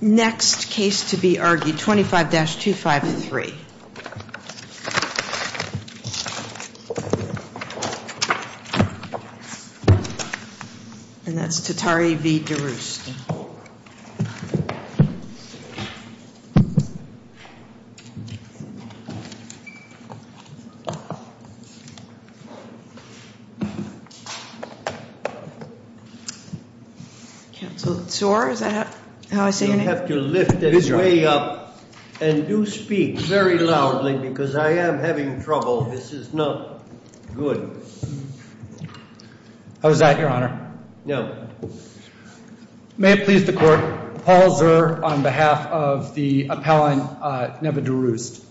Next case to be argued, 25-253. And that's Tattari v. Durust. Next case to be argued, 25-253. May it please the court, Paul Zer on behalf of the appellant Neva Durust.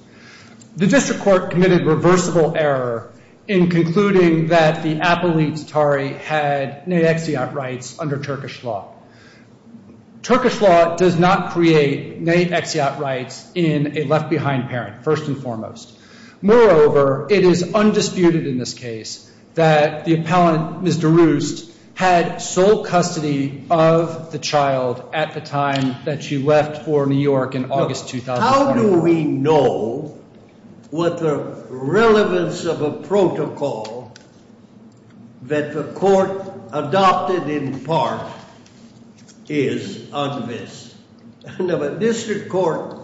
The district court committed reversible error in concluding that the appellate Tattari had nate-exeot rights under Turkish law. Turkish law does not create nate-exeot rights in a left-behind parent, first and foremost. Moreover, it is undisputed in this case that the appellant Ms. Durust had sole custody of the child at the time that she left for New York in August 2009. How do we know what the relevance of a protocol that the court adopted in part is on this? The district court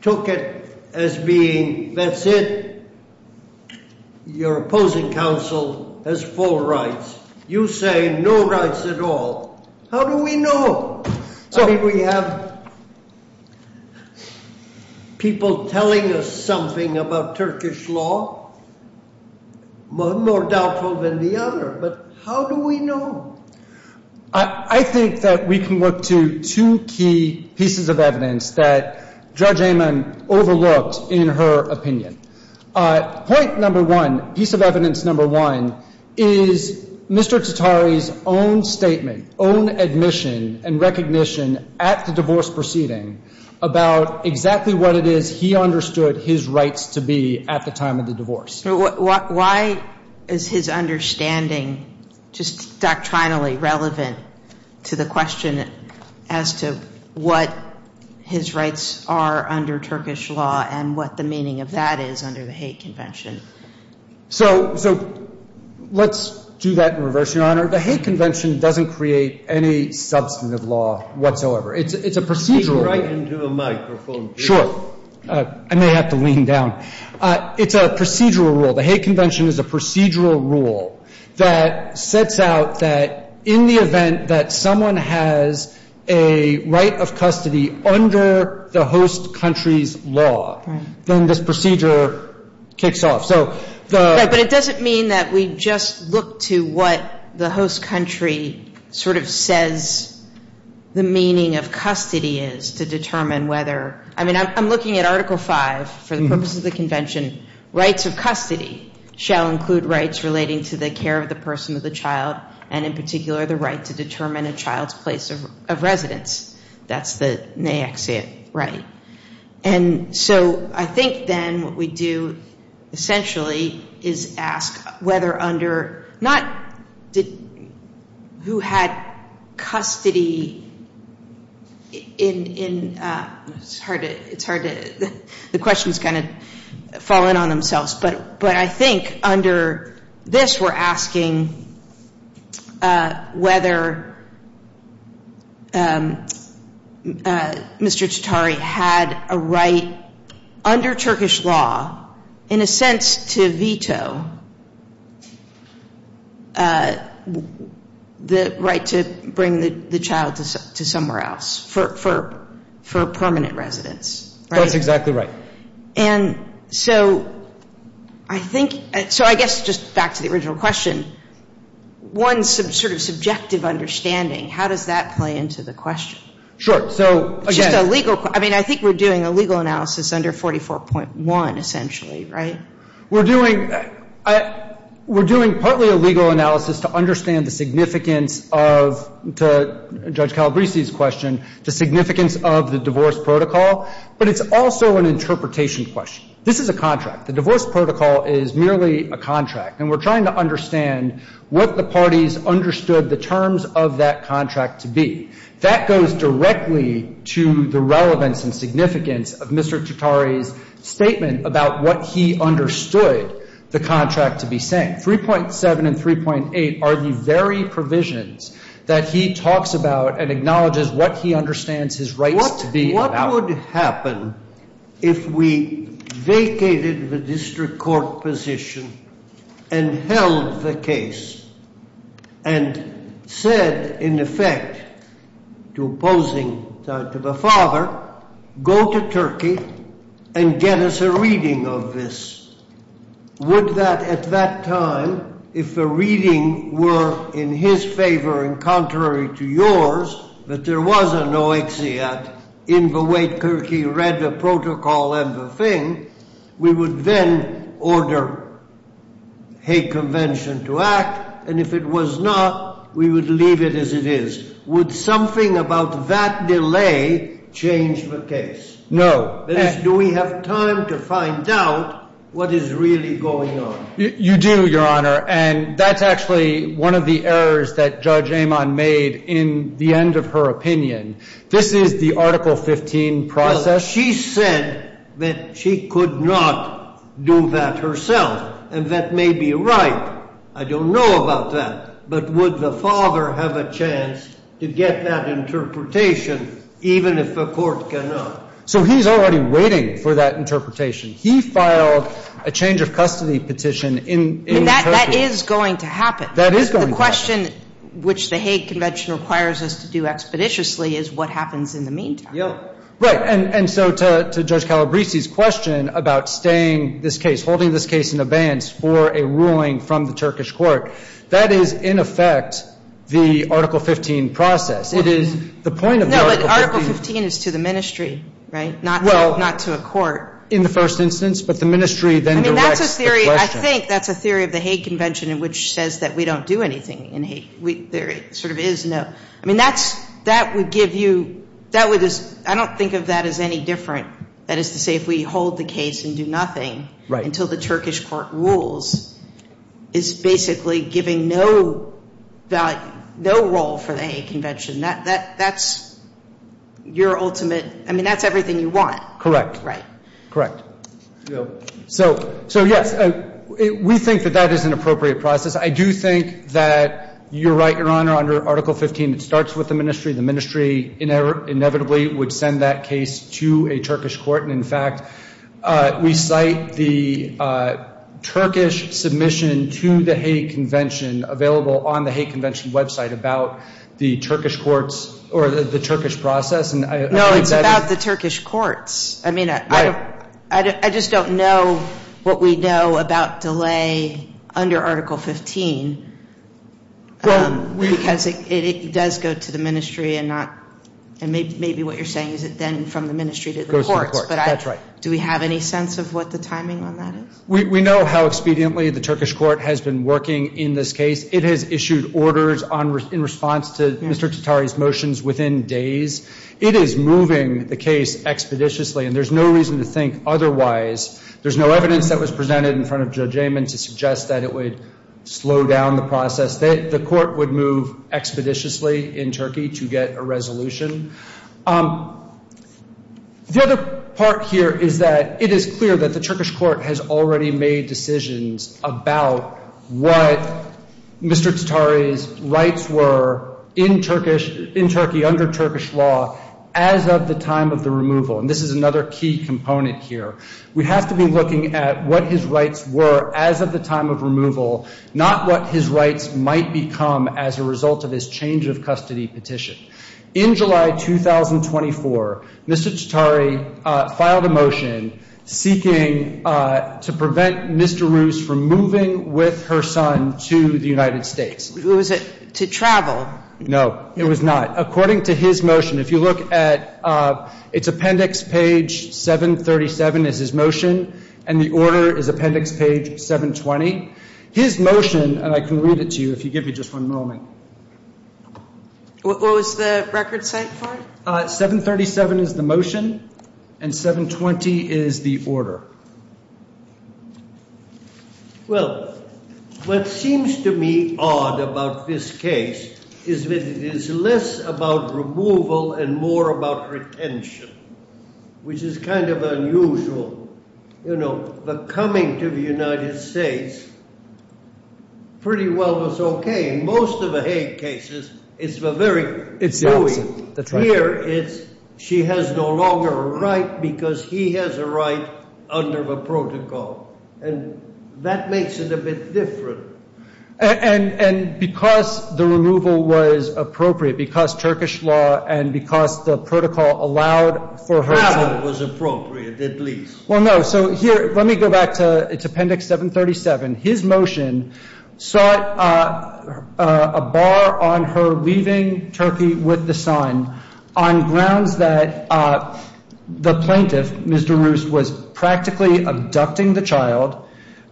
took it as being, that's it, your opposing counsel has full rights. You say no rights at all. How do we know? I mean, we have people telling us something about Turkish law, more doubtful than the other, but how do we know? I think that we can look to two key pieces of evidence that Judge Amon overlooked in her opinion. Point number one, piece of evidence number one, is Mr. Tattari's own statement, own admission and recognition at the divorce proceeding about exactly what it is he understood his rights to be at the time of the divorce. Why is his understanding just doctrinally relevant to the question as to what his rights are under Turkish law and what the meaning of that is under the hate convention? So let's do that in reverse, Your Honor. The hate convention doesn't create any substantive law whatsoever. It's a procedural right. Speak right into the microphone, please. I may have to lean down. It's a procedural rule. The hate convention is a procedural rule that sets out that in the event that someone has a right of custody under the host country's law, then this procedure kicks off. But it doesn't mean that we just look to what the host country sort of says the meaning of custody is to determine whether. I mean, I'm looking at Article V for the purpose of the convention. Rights of custody shall include rights relating to the care of the person of the child and in particular the right to determine a child's place of residence. That's the next right. And so I think then what we do essentially is ask whether under not who had custody in – it's hard to – the questions kind of fall in on themselves. But I think under this we're asking whether Mr. Chitauri had a right under Turkish law in a sense to veto the right to bring the child to somewhere else for permanent residence. That's exactly right. And so I think – so I guess just back to the original question, one sort of subjective understanding, how does that play into the question? Sure. So again – Just a legal – I mean, I think we're doing a legal analysis under 44.1 essentially, right? We're doing – we're doing partly a legal analysis to understand the significance of – to Judge Calabresi's question, the significance of the divorce protocol. But it's also an interpretation question. This is a contract. The divorce protocol is merely a contract. And we're trying to understand what the parties understood the terms of that contract to be. That goes directly to the relevance and significance of Mr. Chitauri's statement about what he understood the contract to be saying. 3.7 and 3.8 are the very provisions that he talks about and acknowledges what he understands his rights to be about. What would happen if we vacated the district court position and held the case and said, in effect, to opposing – to the father, go to Turkey and get us a reading of this? Would that – at that time, if the reading were in his favor and contrary to yours, that there was an oaxeat in the way Turkey read the protocol and the thing, we would then order a convention to act? And if it was not, we would leave it as it is. Would something about that delay change the case? No. That is, do we have time to find out what is really going on? You do, Your Honor. And that's actually one of the errors that Judge Amon made in the end of her opinion. This is the Article 15 process. Well, she said that she could not do that herself. And that may be right. I don't know about that. But would the father have a chance to get that interpretation even if the court cannot? So he's already waiting for that interpretation. He filed a change-of-custody petition in Turkey. And that is going to happen. That is going to happen. The question which the Hague Convention requires us to do expeditiously is what happens in the meantime. Right. And so to Judge Calabresi's question about staying this case, holding this case in abeyance for a ruling from the Turkish court, that is, in effect, the Article 15 process. It is the point of the Article 15. Article 15 is to the ministry, right, not to a court. Well, in the first instance, but the ministry then directs the question. I mean, that's a theory. I think that's a theory of the Hague Convention in which it says that we don't do anything in Hague. There sort of is no. I mean, that would give you ‑‑ I don't think of that as any different. That is to say if we hold the case and do nothing until the Turkish court rules is basically giving no value, no role for the Hague Convention. That's your ultimate ‑‑ I mean, that's everything you want. Correct. Right. Correct. So, yes, we think that that is an appropriate process. I do think that you're right, Your Honor, under Article 15 it starts with the ministry. The ministry inevitably would send that case to a Turkish court. We cite the Turkish submission to the Hague Convention available on the Hague Convention website about the Turkish courts or the Turkish process. No, it's about the Turkish courts. I mean, I just don't know what we know about delay under Article 15 because it does go to the ministry and not ‑‑ Maybe what you're saying is it then from the ministry to the courts. It goes to the courts. That's right. Do we have any sense of what the timing on that is? We know how expediently the Turkish court has been working in this case. It has issued orders in response to Mr. Tatari's motions within days. It is moving the case expeditiously, and there's no reason to think otherwise. There's no evidence that was presented in front of Judge Amon to suggest that it would slow down the process. The court would move expeditiously in Turkey to get a resolution. The other part here is that it is clear that the Turkish court has already made decisions about what Mr. Tatari's rights were in Turkey under Turkish law as of the time of the removal. And this is another key component here. We have to be looking at what his rights were as of the time of removal, not what his rights might become as a result of this change of custody petition. In July 2024, Mr. Tatari filed a motion seeking to prevent Mr. Rus from moving with her son to the United States. Was it to travel? No, it was not. According to his motion, if you look at its appendix, page 737 is his motion, and the order is appendix page 720. His motion, and I can read it to you if you give me just one moment. What was the record cite for? 737 is the motion, and 720 is the order. Well, what seems to me odd about this case is that it is less about removal and more about retention, which is kind of unusual. The coming to the United States pretty well was okay. In most of the Hague cases, it's the opposite. Here, she has no longer a right because he has a right under the protocol, and that makes it a bit different. And because the removal was appropriate, because Turkish law and because the protocol allowed for her to- Well, no. So here, let me go back to appendix 737. His motion sought a bar on her leaving Turkey with the son on grounds that the plaintiff, Mr. Rus, was practically abducting the child,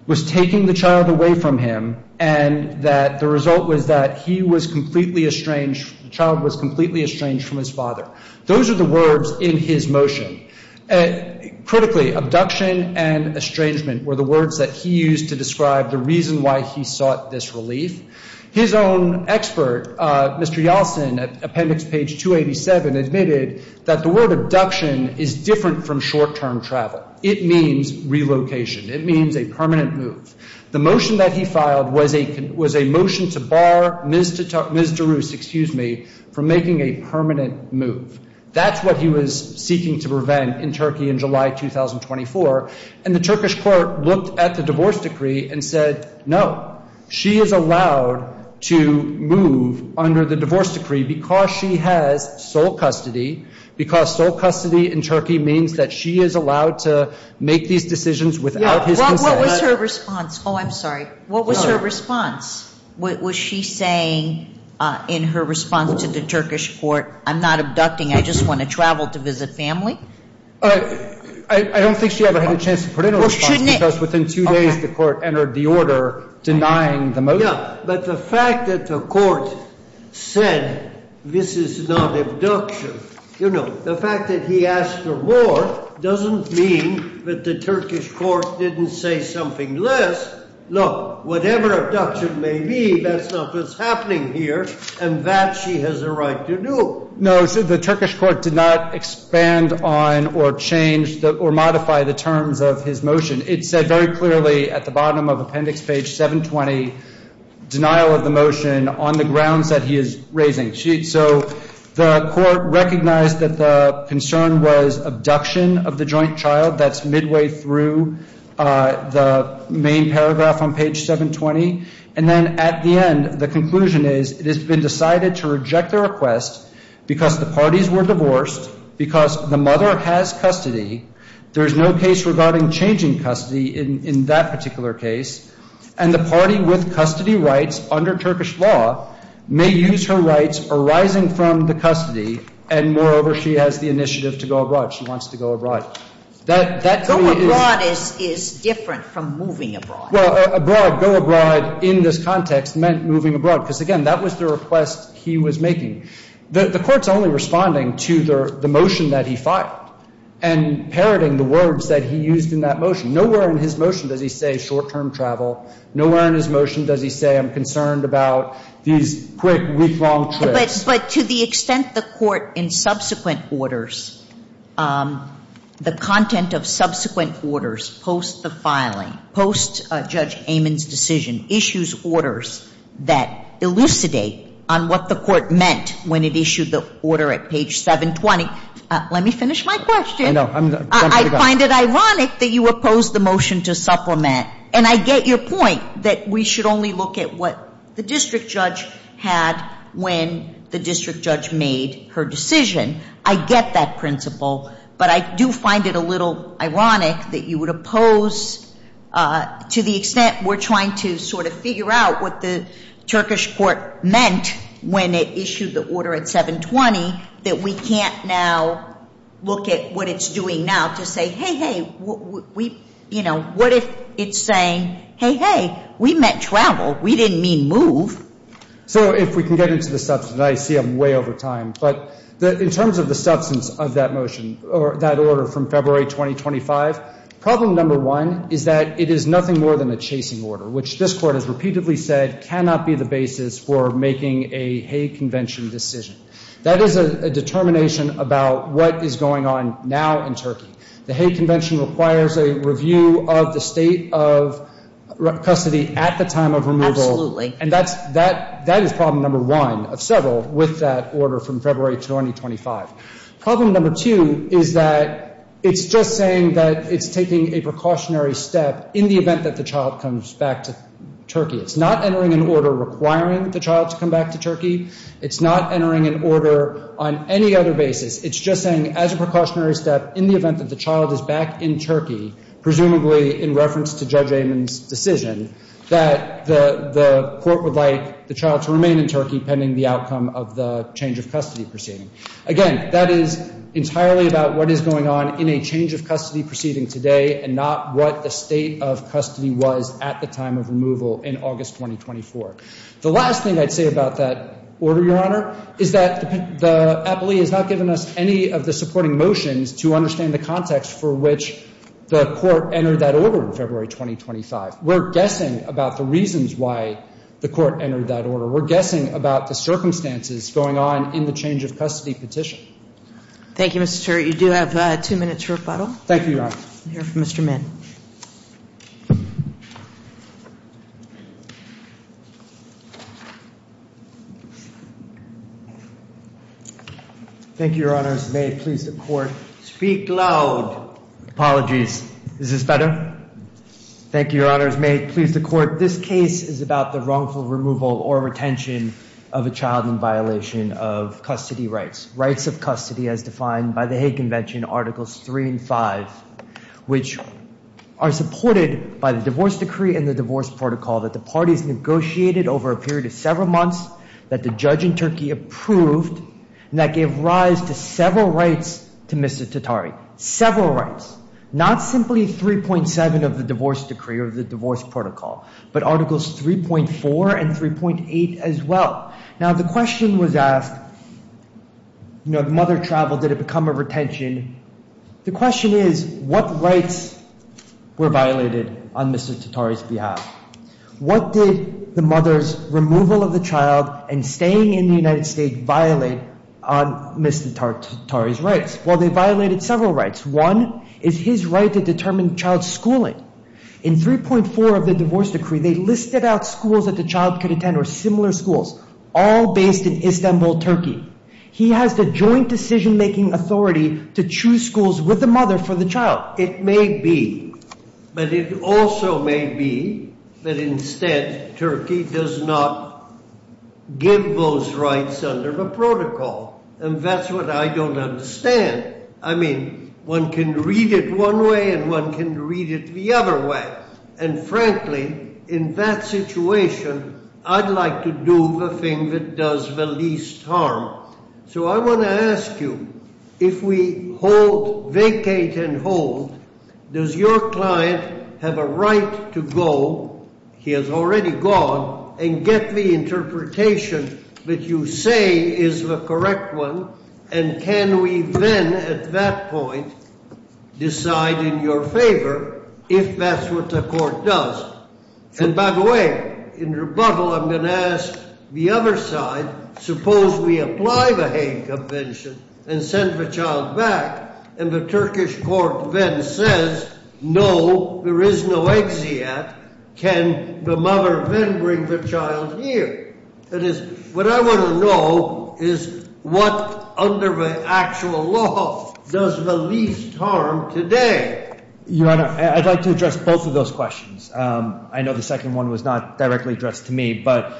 was taking the child away from him, and that the result was that he was completely estranged, the child was completely estranged from his father. Those are the words in his motion. Critically, abduction and estrangement were the words that he used to describe the reason why he sought this relief. His own expert, Mr. Yeltsin, at appendix page 287, admitted that the word abduction is different from short-term travel. It means relocation. It means a permanent move. The motion that he filed was a motion to bar Ms. de Rus, excuse me, from making a permanent move. That's what he was seeking to prevent in Turkey in July 2024. And the Turkish court looked at the divorce decree and said, no, she is allowed to move under the divorce decree because she has sole custody, because sole custody in Turkey means that she is allowed to make these decisions without his consent. What was her response? Oh, I'm sorry. What was her response? Was she saying in her response to the Turkish court, I'm not abducting, I just want to travel to visit family? I don't think she ever had a chance to put in a response because within two days the court entered the order denying the motion. Yeah, but the fact that the court said this is not abduction, you know, the fact that he asked for more doesn't mean that the Turkish court didn't say something less. Look, whatever abduction may be, that's not what's happening here, and that she has a right to do. No, the Turkish court did not expand on or change or modify the terms of his motion. It said very clearly at the bottom of appendix page 720, denial of the motion on the grounds that he is raising. So the court recognized that the concern was abduction of the joint child. That's midway through the main paragraph on page 720. And then at the end, the conclusion is it has been decided to reject the request because the parties were divorced, because the mother has custody. There is no case regarding changing custody in that particular case, and the party with custody rights under Turkish law may use her rights arising from the custody, and moreover, she has the initiative to go abroad. She wants to go abroad. That to me is — Go abroad is different from moving abroad. Well, abroad, go abroad in this context meant moving abroad, because, again, that was the request he was making. The Court's only responding to the motion that he filed and parroting the words that he used in that motion. Nowhere in his motion does he say short-term travel. Nowhere in his motion does he say I'm concerned about these quick, week-long trips. But to the extent the Court in subsequent orders, the content of subsequent orders post the filing, post Judge Amon's decision, issues orders that elucidate on what the Court meant when it issued the order at page 720. Let me finish my question. I'm jumping to guns. I find it ironic that you oppose the motion to supplement. And I get your point that we should only look at what the district judge had when the district judge made her decision. I get that principle. But I do find it a little ironic that you would oppose to the extent we're trying to sort of figure out what the Turkish Court meant when it issued the order at 720, that we can't now look at what it's doing now to say, hey, hey, what if it's saying, hey, hey, we meant travel. We didn't mean move. So if we can get into the subject. I see I'm way over time. But in terms of the substance of that motion or that order from February 2025, problem number one is that it is nothing more than a chasing order, which this Court has repeatedly said cannot be the basis for making a Hague Convention decision. That is a determination about what is going on now in Turkey. The Hague Convention requires a review of the state of custody at the time of removal. And that is problem number one of several with that order from February 2025. Problem number two is that it's just saying that it's taking a precautionary step in the event that the child comes back to Turkey. It's not entering an order requiring the child to come back to Turkey. It's not entering an order on any other basis. It's just saying as a precautionary step in the event that the child is back in Turkey, presumably in reference to Judge Amon's decision, that the court would like the child to remain in Turkey pending the outcome of the change of custody proceeding. Again, that is entirely about what is going on in a change of custody proceeding today and not what the state of custody was at the time of removal in August 2024. The last thing I'd say about that order, Your Honor, is that the appellee has not given us any of the supporting motions to understand the context for which the court entered that order in February 2025. We're guessing about the reasons why the court entered that order. We're guessing about the circumstances going on in the change of custody petition. Thank you, Mr. Turley. You do have two minutes for rebuttal. Thank you, Your Honor. We'll hear from Mr. Min. Thank you. Thank you, Your Honors. May it please the court. Speak loud. Apologies. Is this better? Thank you, Your Honors. May it please the court. This case is about the wrongful removal or retention of a child in violation of custody rights, as defined by the Hague Convention, Articles 3 and 5, which are supported by the divorce decree and the divorce protocol that the parties negotiated over a period of several months, that the judge in Turkey approved, and that gave rise to several rights to Mr. Tatari, several rights, not simply 3.7 of the divorce decree or the divorce protocol, but Articles 3.4 and 3.8 as well. Now, the question was asked, you know, the mother traveled, did it become a retention? The question is, what rights were violated on Mr. Tatari's behalf? What did the mother's removal of the child and staying in the United States violate on Mr. Tatari's rights? Well, they violated several rights. One is his right to determine child schooling. In 3.4 of the divorce decree, they listed out schools that the child could attend or similar schools. All based in Istanbul, Turkey. He has the joint decision-making authority to choose schools with the mother for the child. It may be, but it also may be that instead Turkey does not give those rights under the protocol. And that's what I don't understand. I mean, one can read it one way and one can read it the other way. And frankly, in that situation, I'd like to do the thing that does the least harm. So I want to ask you, if we hold, vacate and hold, does your client have a right to go? He has already gone. And get the interpretation that you say is the correct one. And can we then at that point decide in your favor if that's what the court does? And by the way, in rebuttal, I'm going to ask the other side, suppose we apply the Hague Convention and send the child back. And the Turkish court then says, no, there is no exit yet. Can the mother then bring the child here? That is, what I want to know is what under the actual law does the least harm today? Your Honor, I'd like to address both of those questions. I know the second one was not directly addressed to me, but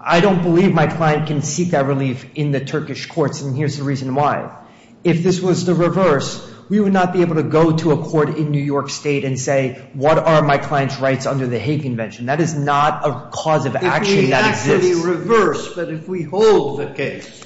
I don't believe my client can seek that relief in the Turkish courts. And here's the reason why. If this was the reverse, we would not be able to go to a court in New York State and say, what are my client's rights under the Hague Convention? That is not a cause of action that exists. But if we hold the case.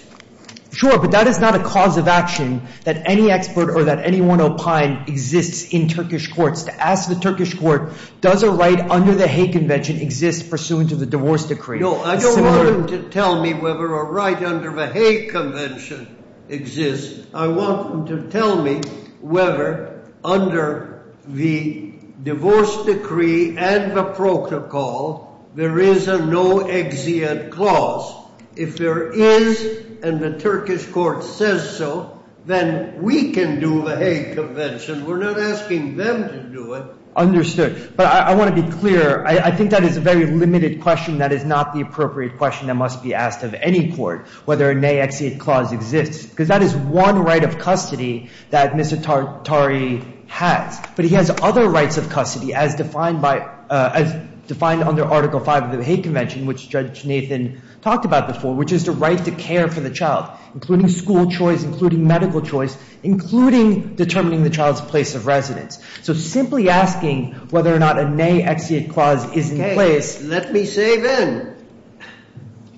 Sure, but that is not a cause of action that any expert or that anyone opine exists in Turkish courts. To ask the Turkish court, does a right under the Hague Convention exist pursuant to the divorce decree? No, I don't want them to tell me whether a right under the Hague Convention exists. I want them to tell me whether under the divorce decree and the protocol, there is a no exit clause. If there is, and the Turkish court says so, then we can do the Hague Convention. We're not asking them to do it. Understood. But I want to be clear. I think that is a very limited question. That is not the appropriate question that must be asked of any court. Whether a nay exit clause exists. Because that is one right of custody that Mr. Tari has. But he has other rights of custody as defined by, as defined under Article 5 of the Hague Convention, which Judge Nathan talked about before. Which is the right to care for the child. Including school choice, including medical choice, including determining the child's place of residence. So simply asking whether or not a nay exit clause is in place. Okay, let me say then.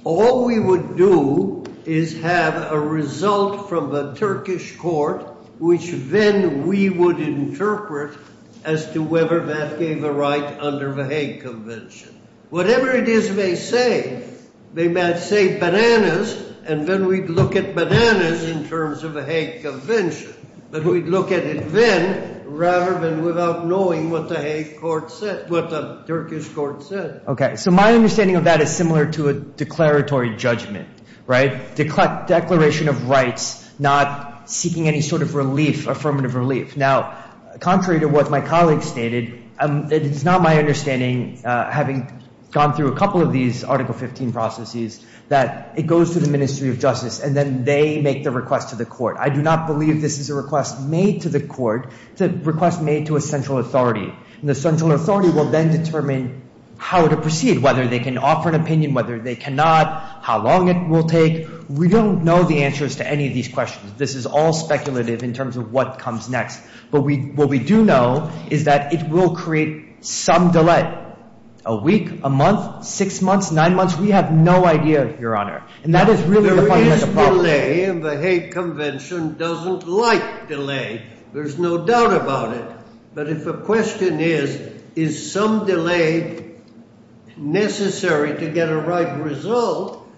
All we would do is have a result from the Turkish court, which then we would interpret as to whether that gave a right under the Hague Convention. Whatever it is they say. They might say bananas, and then we'd look at bananas in terms of the Hague Convention. But we'd look at it then, rather than without knowing what the Hague court said, what the Turkish court said. Okay, so my understanding of that is similar to a declaratory judgment. Declaration of rights, not seeking any sort of relief, affirmative relief. Now, contrary to what my colleague stated, it is not my understanding, having gone through a couple of these Article 15 processes, that it goes to the Ministry of Justice. And then they make the request to the court. I do not believe this is a request made to the court. It's a request made to a central authority. And the central authority will then determine how to proceed, whether they can offer an opinion, whether they cannot, how long it will take. We don't know the answers to any of these questions. This is all speculative in terms of what comes next. But what we do know is that it will create some delay. A week, a month, six months, nine months, we have no idea, Your Honor. And that is really the fundamental problem. There is delay, and the Hague Convention doesn't like delay. There's no doubt about it. But if the question is, is some delay necessary to get a right result?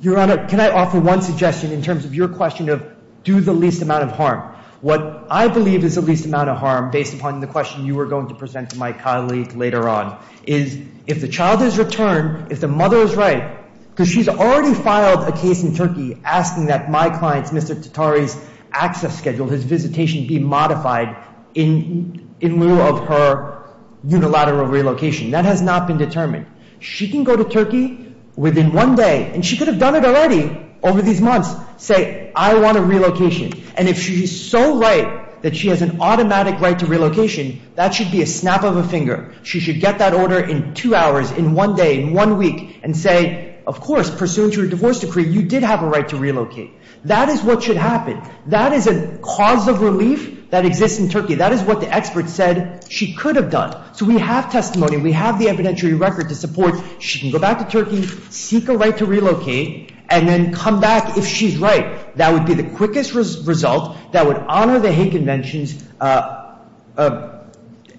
Your Honor, can I offer one suggestion in terms of your question of do the least amount of harm? What I believe is the least amount of harm, based upon the question you were going to present to my colleague later on, is if the child is returned, if the mother is right, because she's already filed a case in Turkey asking that my client's, Mr. Tatari's, access schedule, his visitation be modified in lieu of her unilateral relocation. That has not been determined. She can go to Turkey within one day, and she could have done it already over these months, say, I want a relocation. And if she's so right that she has an automatic right to relocation, that should be a snap of a finger. She should get that order in two hours, in one day, in one week, and say, of course, pursuant to her divorce decree, you did have a right to relocate. That is what should happen. That is a cause of relief that exists in Turkey. That is what the expert said she could have done. So we have testimony. We have the evidentiary record to support she can go back to Turkey, seek a right to relocate, and then come back if she's right. That would be the quickest result that would honor the Hague Convention's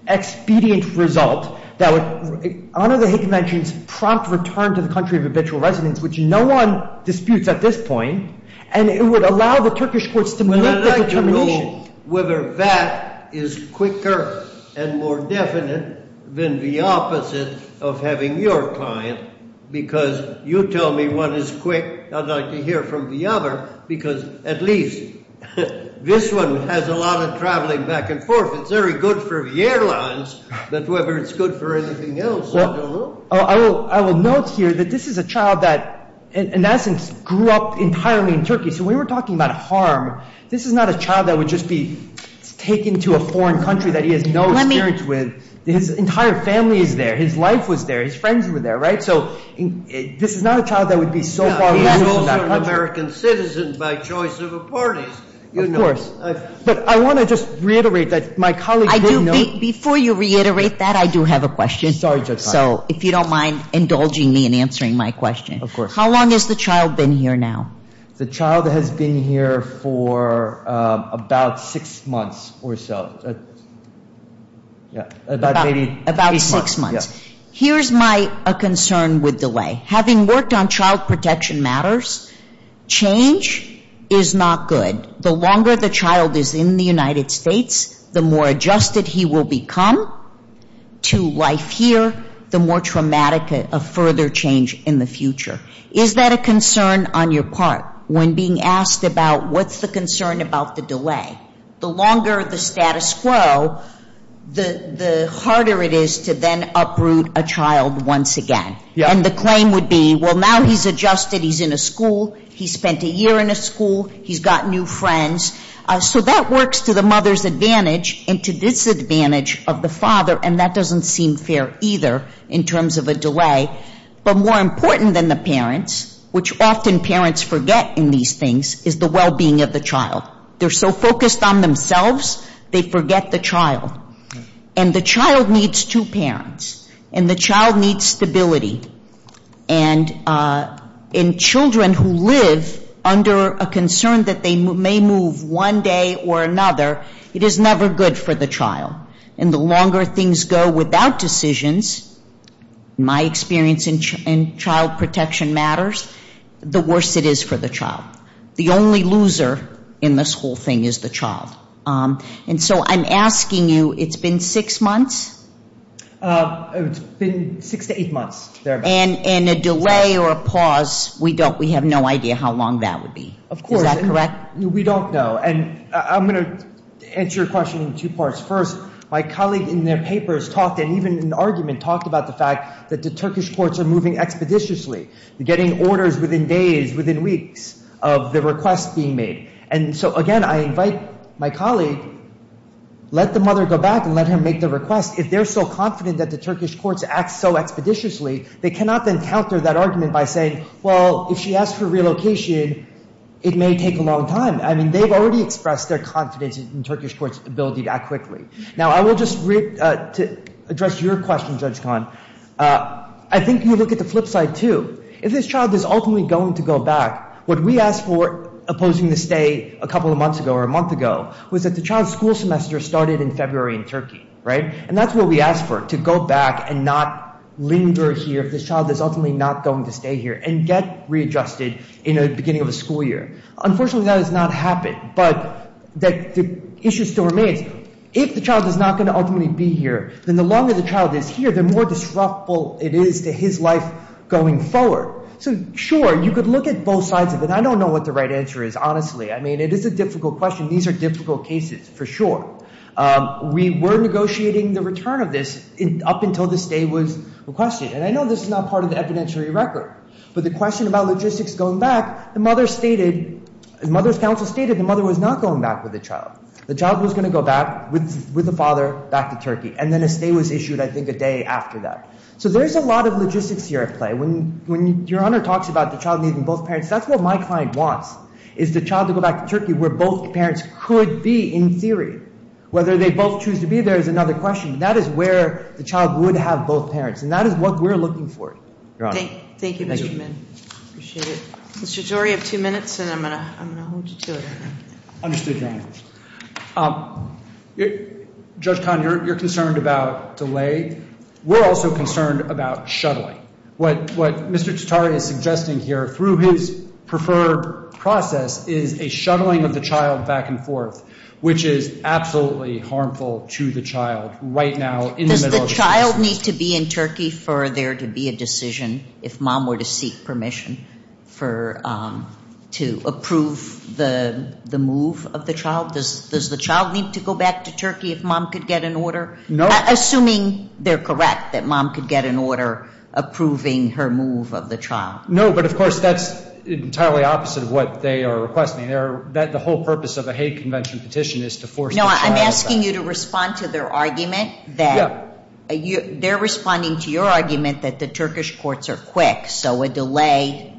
expedient result that would honor the Hague Convention's prompt return to the country of habitual residence, which no one disputes at this point. And it would allow the Turkish courts to make this determination. I don't know whether that is quicker and more definite than the opposite of having your client, because you tell me one is quick. I'd like to hear from the other, because at least this one has a lot of traveling back and forth. It's very good for the airlines, but whether it's good for anything else, I don't know. I will note here that this is a child that, in essence, grew up entirely in Turkey. So we were talking about harm. This is not a child that would just be taken to a foreign country that he has no experience with. His entire family is there. His life was there. His friends were there, right? So this is not a child that would be so far removed from that country. He's also an American citizen by choice of parties. Of course. But I want to just reiterate that my colleague didn't know. Before you reiterate that, I do have a question. Sorry, Judge Hart. So if you don't mind indulging me in answering my question. Of course. How long has the child been here now? The child has been here for about six months or so. About six months. Here's my concern with delay. Having worked on child protection matters, change is not good. The longer the child is in the United States, the more adjusted he will become to life here, the more traumatic a further change in the future. Is that a concern on your part when being asked about what's the concern about the delay? The longer the status quo, the harder it is to then uproot a child once again. And the claim would be, well, now he's adjusted. He's in a school. He spent a year in a school. He's got new friends. So that works to the mother's advantage and to disadvantage of the father, and that doesn't seem fair either in terms of a delay. But more important than the parents, which often parents forget in these things, is the well-being of the child. They're so focused on themselves, they forget the child. And the child needs two parents, and the child needs stability. And in children who live under a concern that they may move one day or another, it is never good for the child. And the longer things go without decisions, my experience in child protection matters, the worse it is for the child. The only loser in this whole thing is the child. And so I'm asking you, it's been six months? It's been six to eight months. And a delay or a pause, we have no idea how long that would be. Of course. Is that correct? We don't know. And I'm going to answer your question in two parts. First, my colleague in their papers talked, and even in an argument, talked about the fact that the Turkish courts are moving expeditiously, getting orders within days, within weeks of the request being made. And so, again, I invite my colleague, let the mother go back and let her make the request. If they're so confident that the Turkish courts act so expeditiously, they cannot then counter that argument by saying, well, if she asks for relocation, it may take a long time. I mean, they've already expressed their confidence in Turkish courts' ability to act quickly. Now, I will just address your question, Judge Kahn. I think you look at the flip side, too. If this child is ultimately going to go back, what we asked for opposing the stay a couple of months ago or a month ago was that the child's school semester started in February in Turkey, right? And that's what we asked for, to go back and not linger here if this child is ultimately not going to stay here and get readjusted in the beginning of the school year. Unfortunately, that has not happened, but the issue still remains. If the child is not going to ultimately be here, then the longer the child is here, the more disruptive it is to his life going forward. So, sure, you could look at both sides of it. I don't know what the right answer is, honestly. I mean, it is a difficult question. These are difficult cases, for sure. We were negotiating the return of this up until the stay was requested. And I know this is not part of the evidentiary record, but the question about logistics going back, the mother stated, the mother's counsel stated the mother was not going back with the child. The child was going to go back with the father back to Turkey. And then a stay was issued, I think, a day after that. So there's a lot of logistics here at play. When Your Honor talks about the child needing both parents, that's what my client wants, is the child to go back to Turkey where both parents could be in theory. Whether they both choose to be there is another question. That is where the child would have both parents, and that is what we're looking for, Your Honor. Thank you, Mr. Min. Appreciate it. Mr. Jory, you have two minutes, and I'm going to hold you to it. Understood, Your Honor. Judge Cahn, you're concerned about delay. We're also concerned about shuttling. What Mr. Tatar is suggesting here, through his preferred process, is a shuttling of the child back and forth, which is absolutely harmful to the child right now in the middle of the process. Does the child need to be in Turkey for there to be a decision, if mom were to seek permission to approve the move of the child? Does the child need to go back to Turkey if mom could get an order? No. Assuming they're correct that mom could get an order approving her move of the child. No, but, of course, that's entirely opposite of what they are requesting. The whole purpose of a hate convention petition is to force the child back. No, I'm asking you to respond to their argument that they're responding to your argument that the Turkish courts are quick, so a delay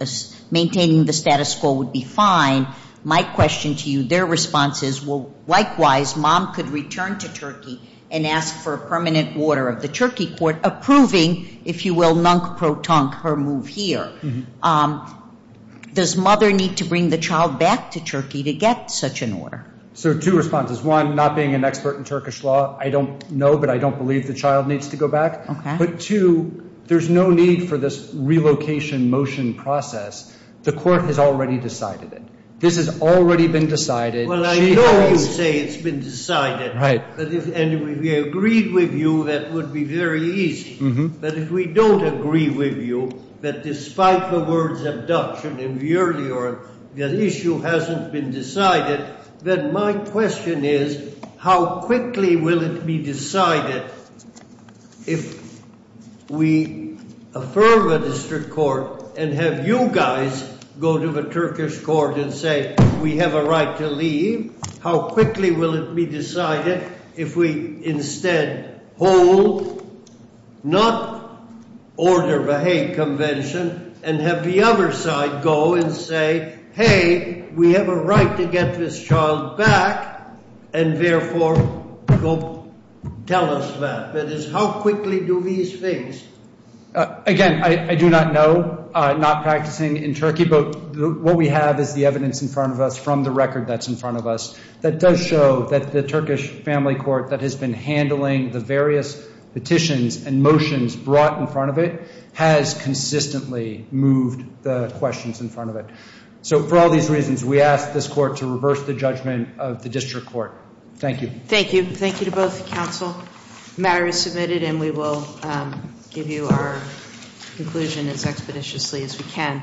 maintaining the status quo would be fine. My question to you, their response is, well, likewise, mom could return to Turkey and ask for a permanent order of the Turkey court approving, if you will, nunk-pro-tunk her move here. Does mother need to bring the child back to Turkey to get such an order? So two responses. One, not being an expert in Turkish law, I don't know, but I don't believe the child needs to go back. Okay. But, two, there's no need for this relocation motion process. The court has already decided it. This has already been decided. Well, I know you say it's been decided. Right. And if we agreed with you, that would be very easy. But if we don't agree with you, that despite the words of Dutch and in the earlier, the issue hasn't been decided, then my question is how quickly will it be decided if we affirm a district court and have you guys go to the Turkish court and say we have a right to leave? How quickly will it be decided if we instead hold not order of a hate convention and have the other side go and say, hey, we have a right to get this child back and therefore go tell us that? That is, how quickly do these things? Again, I do not know, not practicing in Turkey, but what we have is the evidence in front of us from the record that's in front of us that does show that the Turkish family court that has been handling the various petitions and motions brought in front of it has consistently moved the questions in front of it. So for all these reasons, we ask this court to reverse the judgment of the district court. Thank you. Thank you. Thank you to both counsel. The matter is submitted and we will give you our conclusion as expeditiously as we can.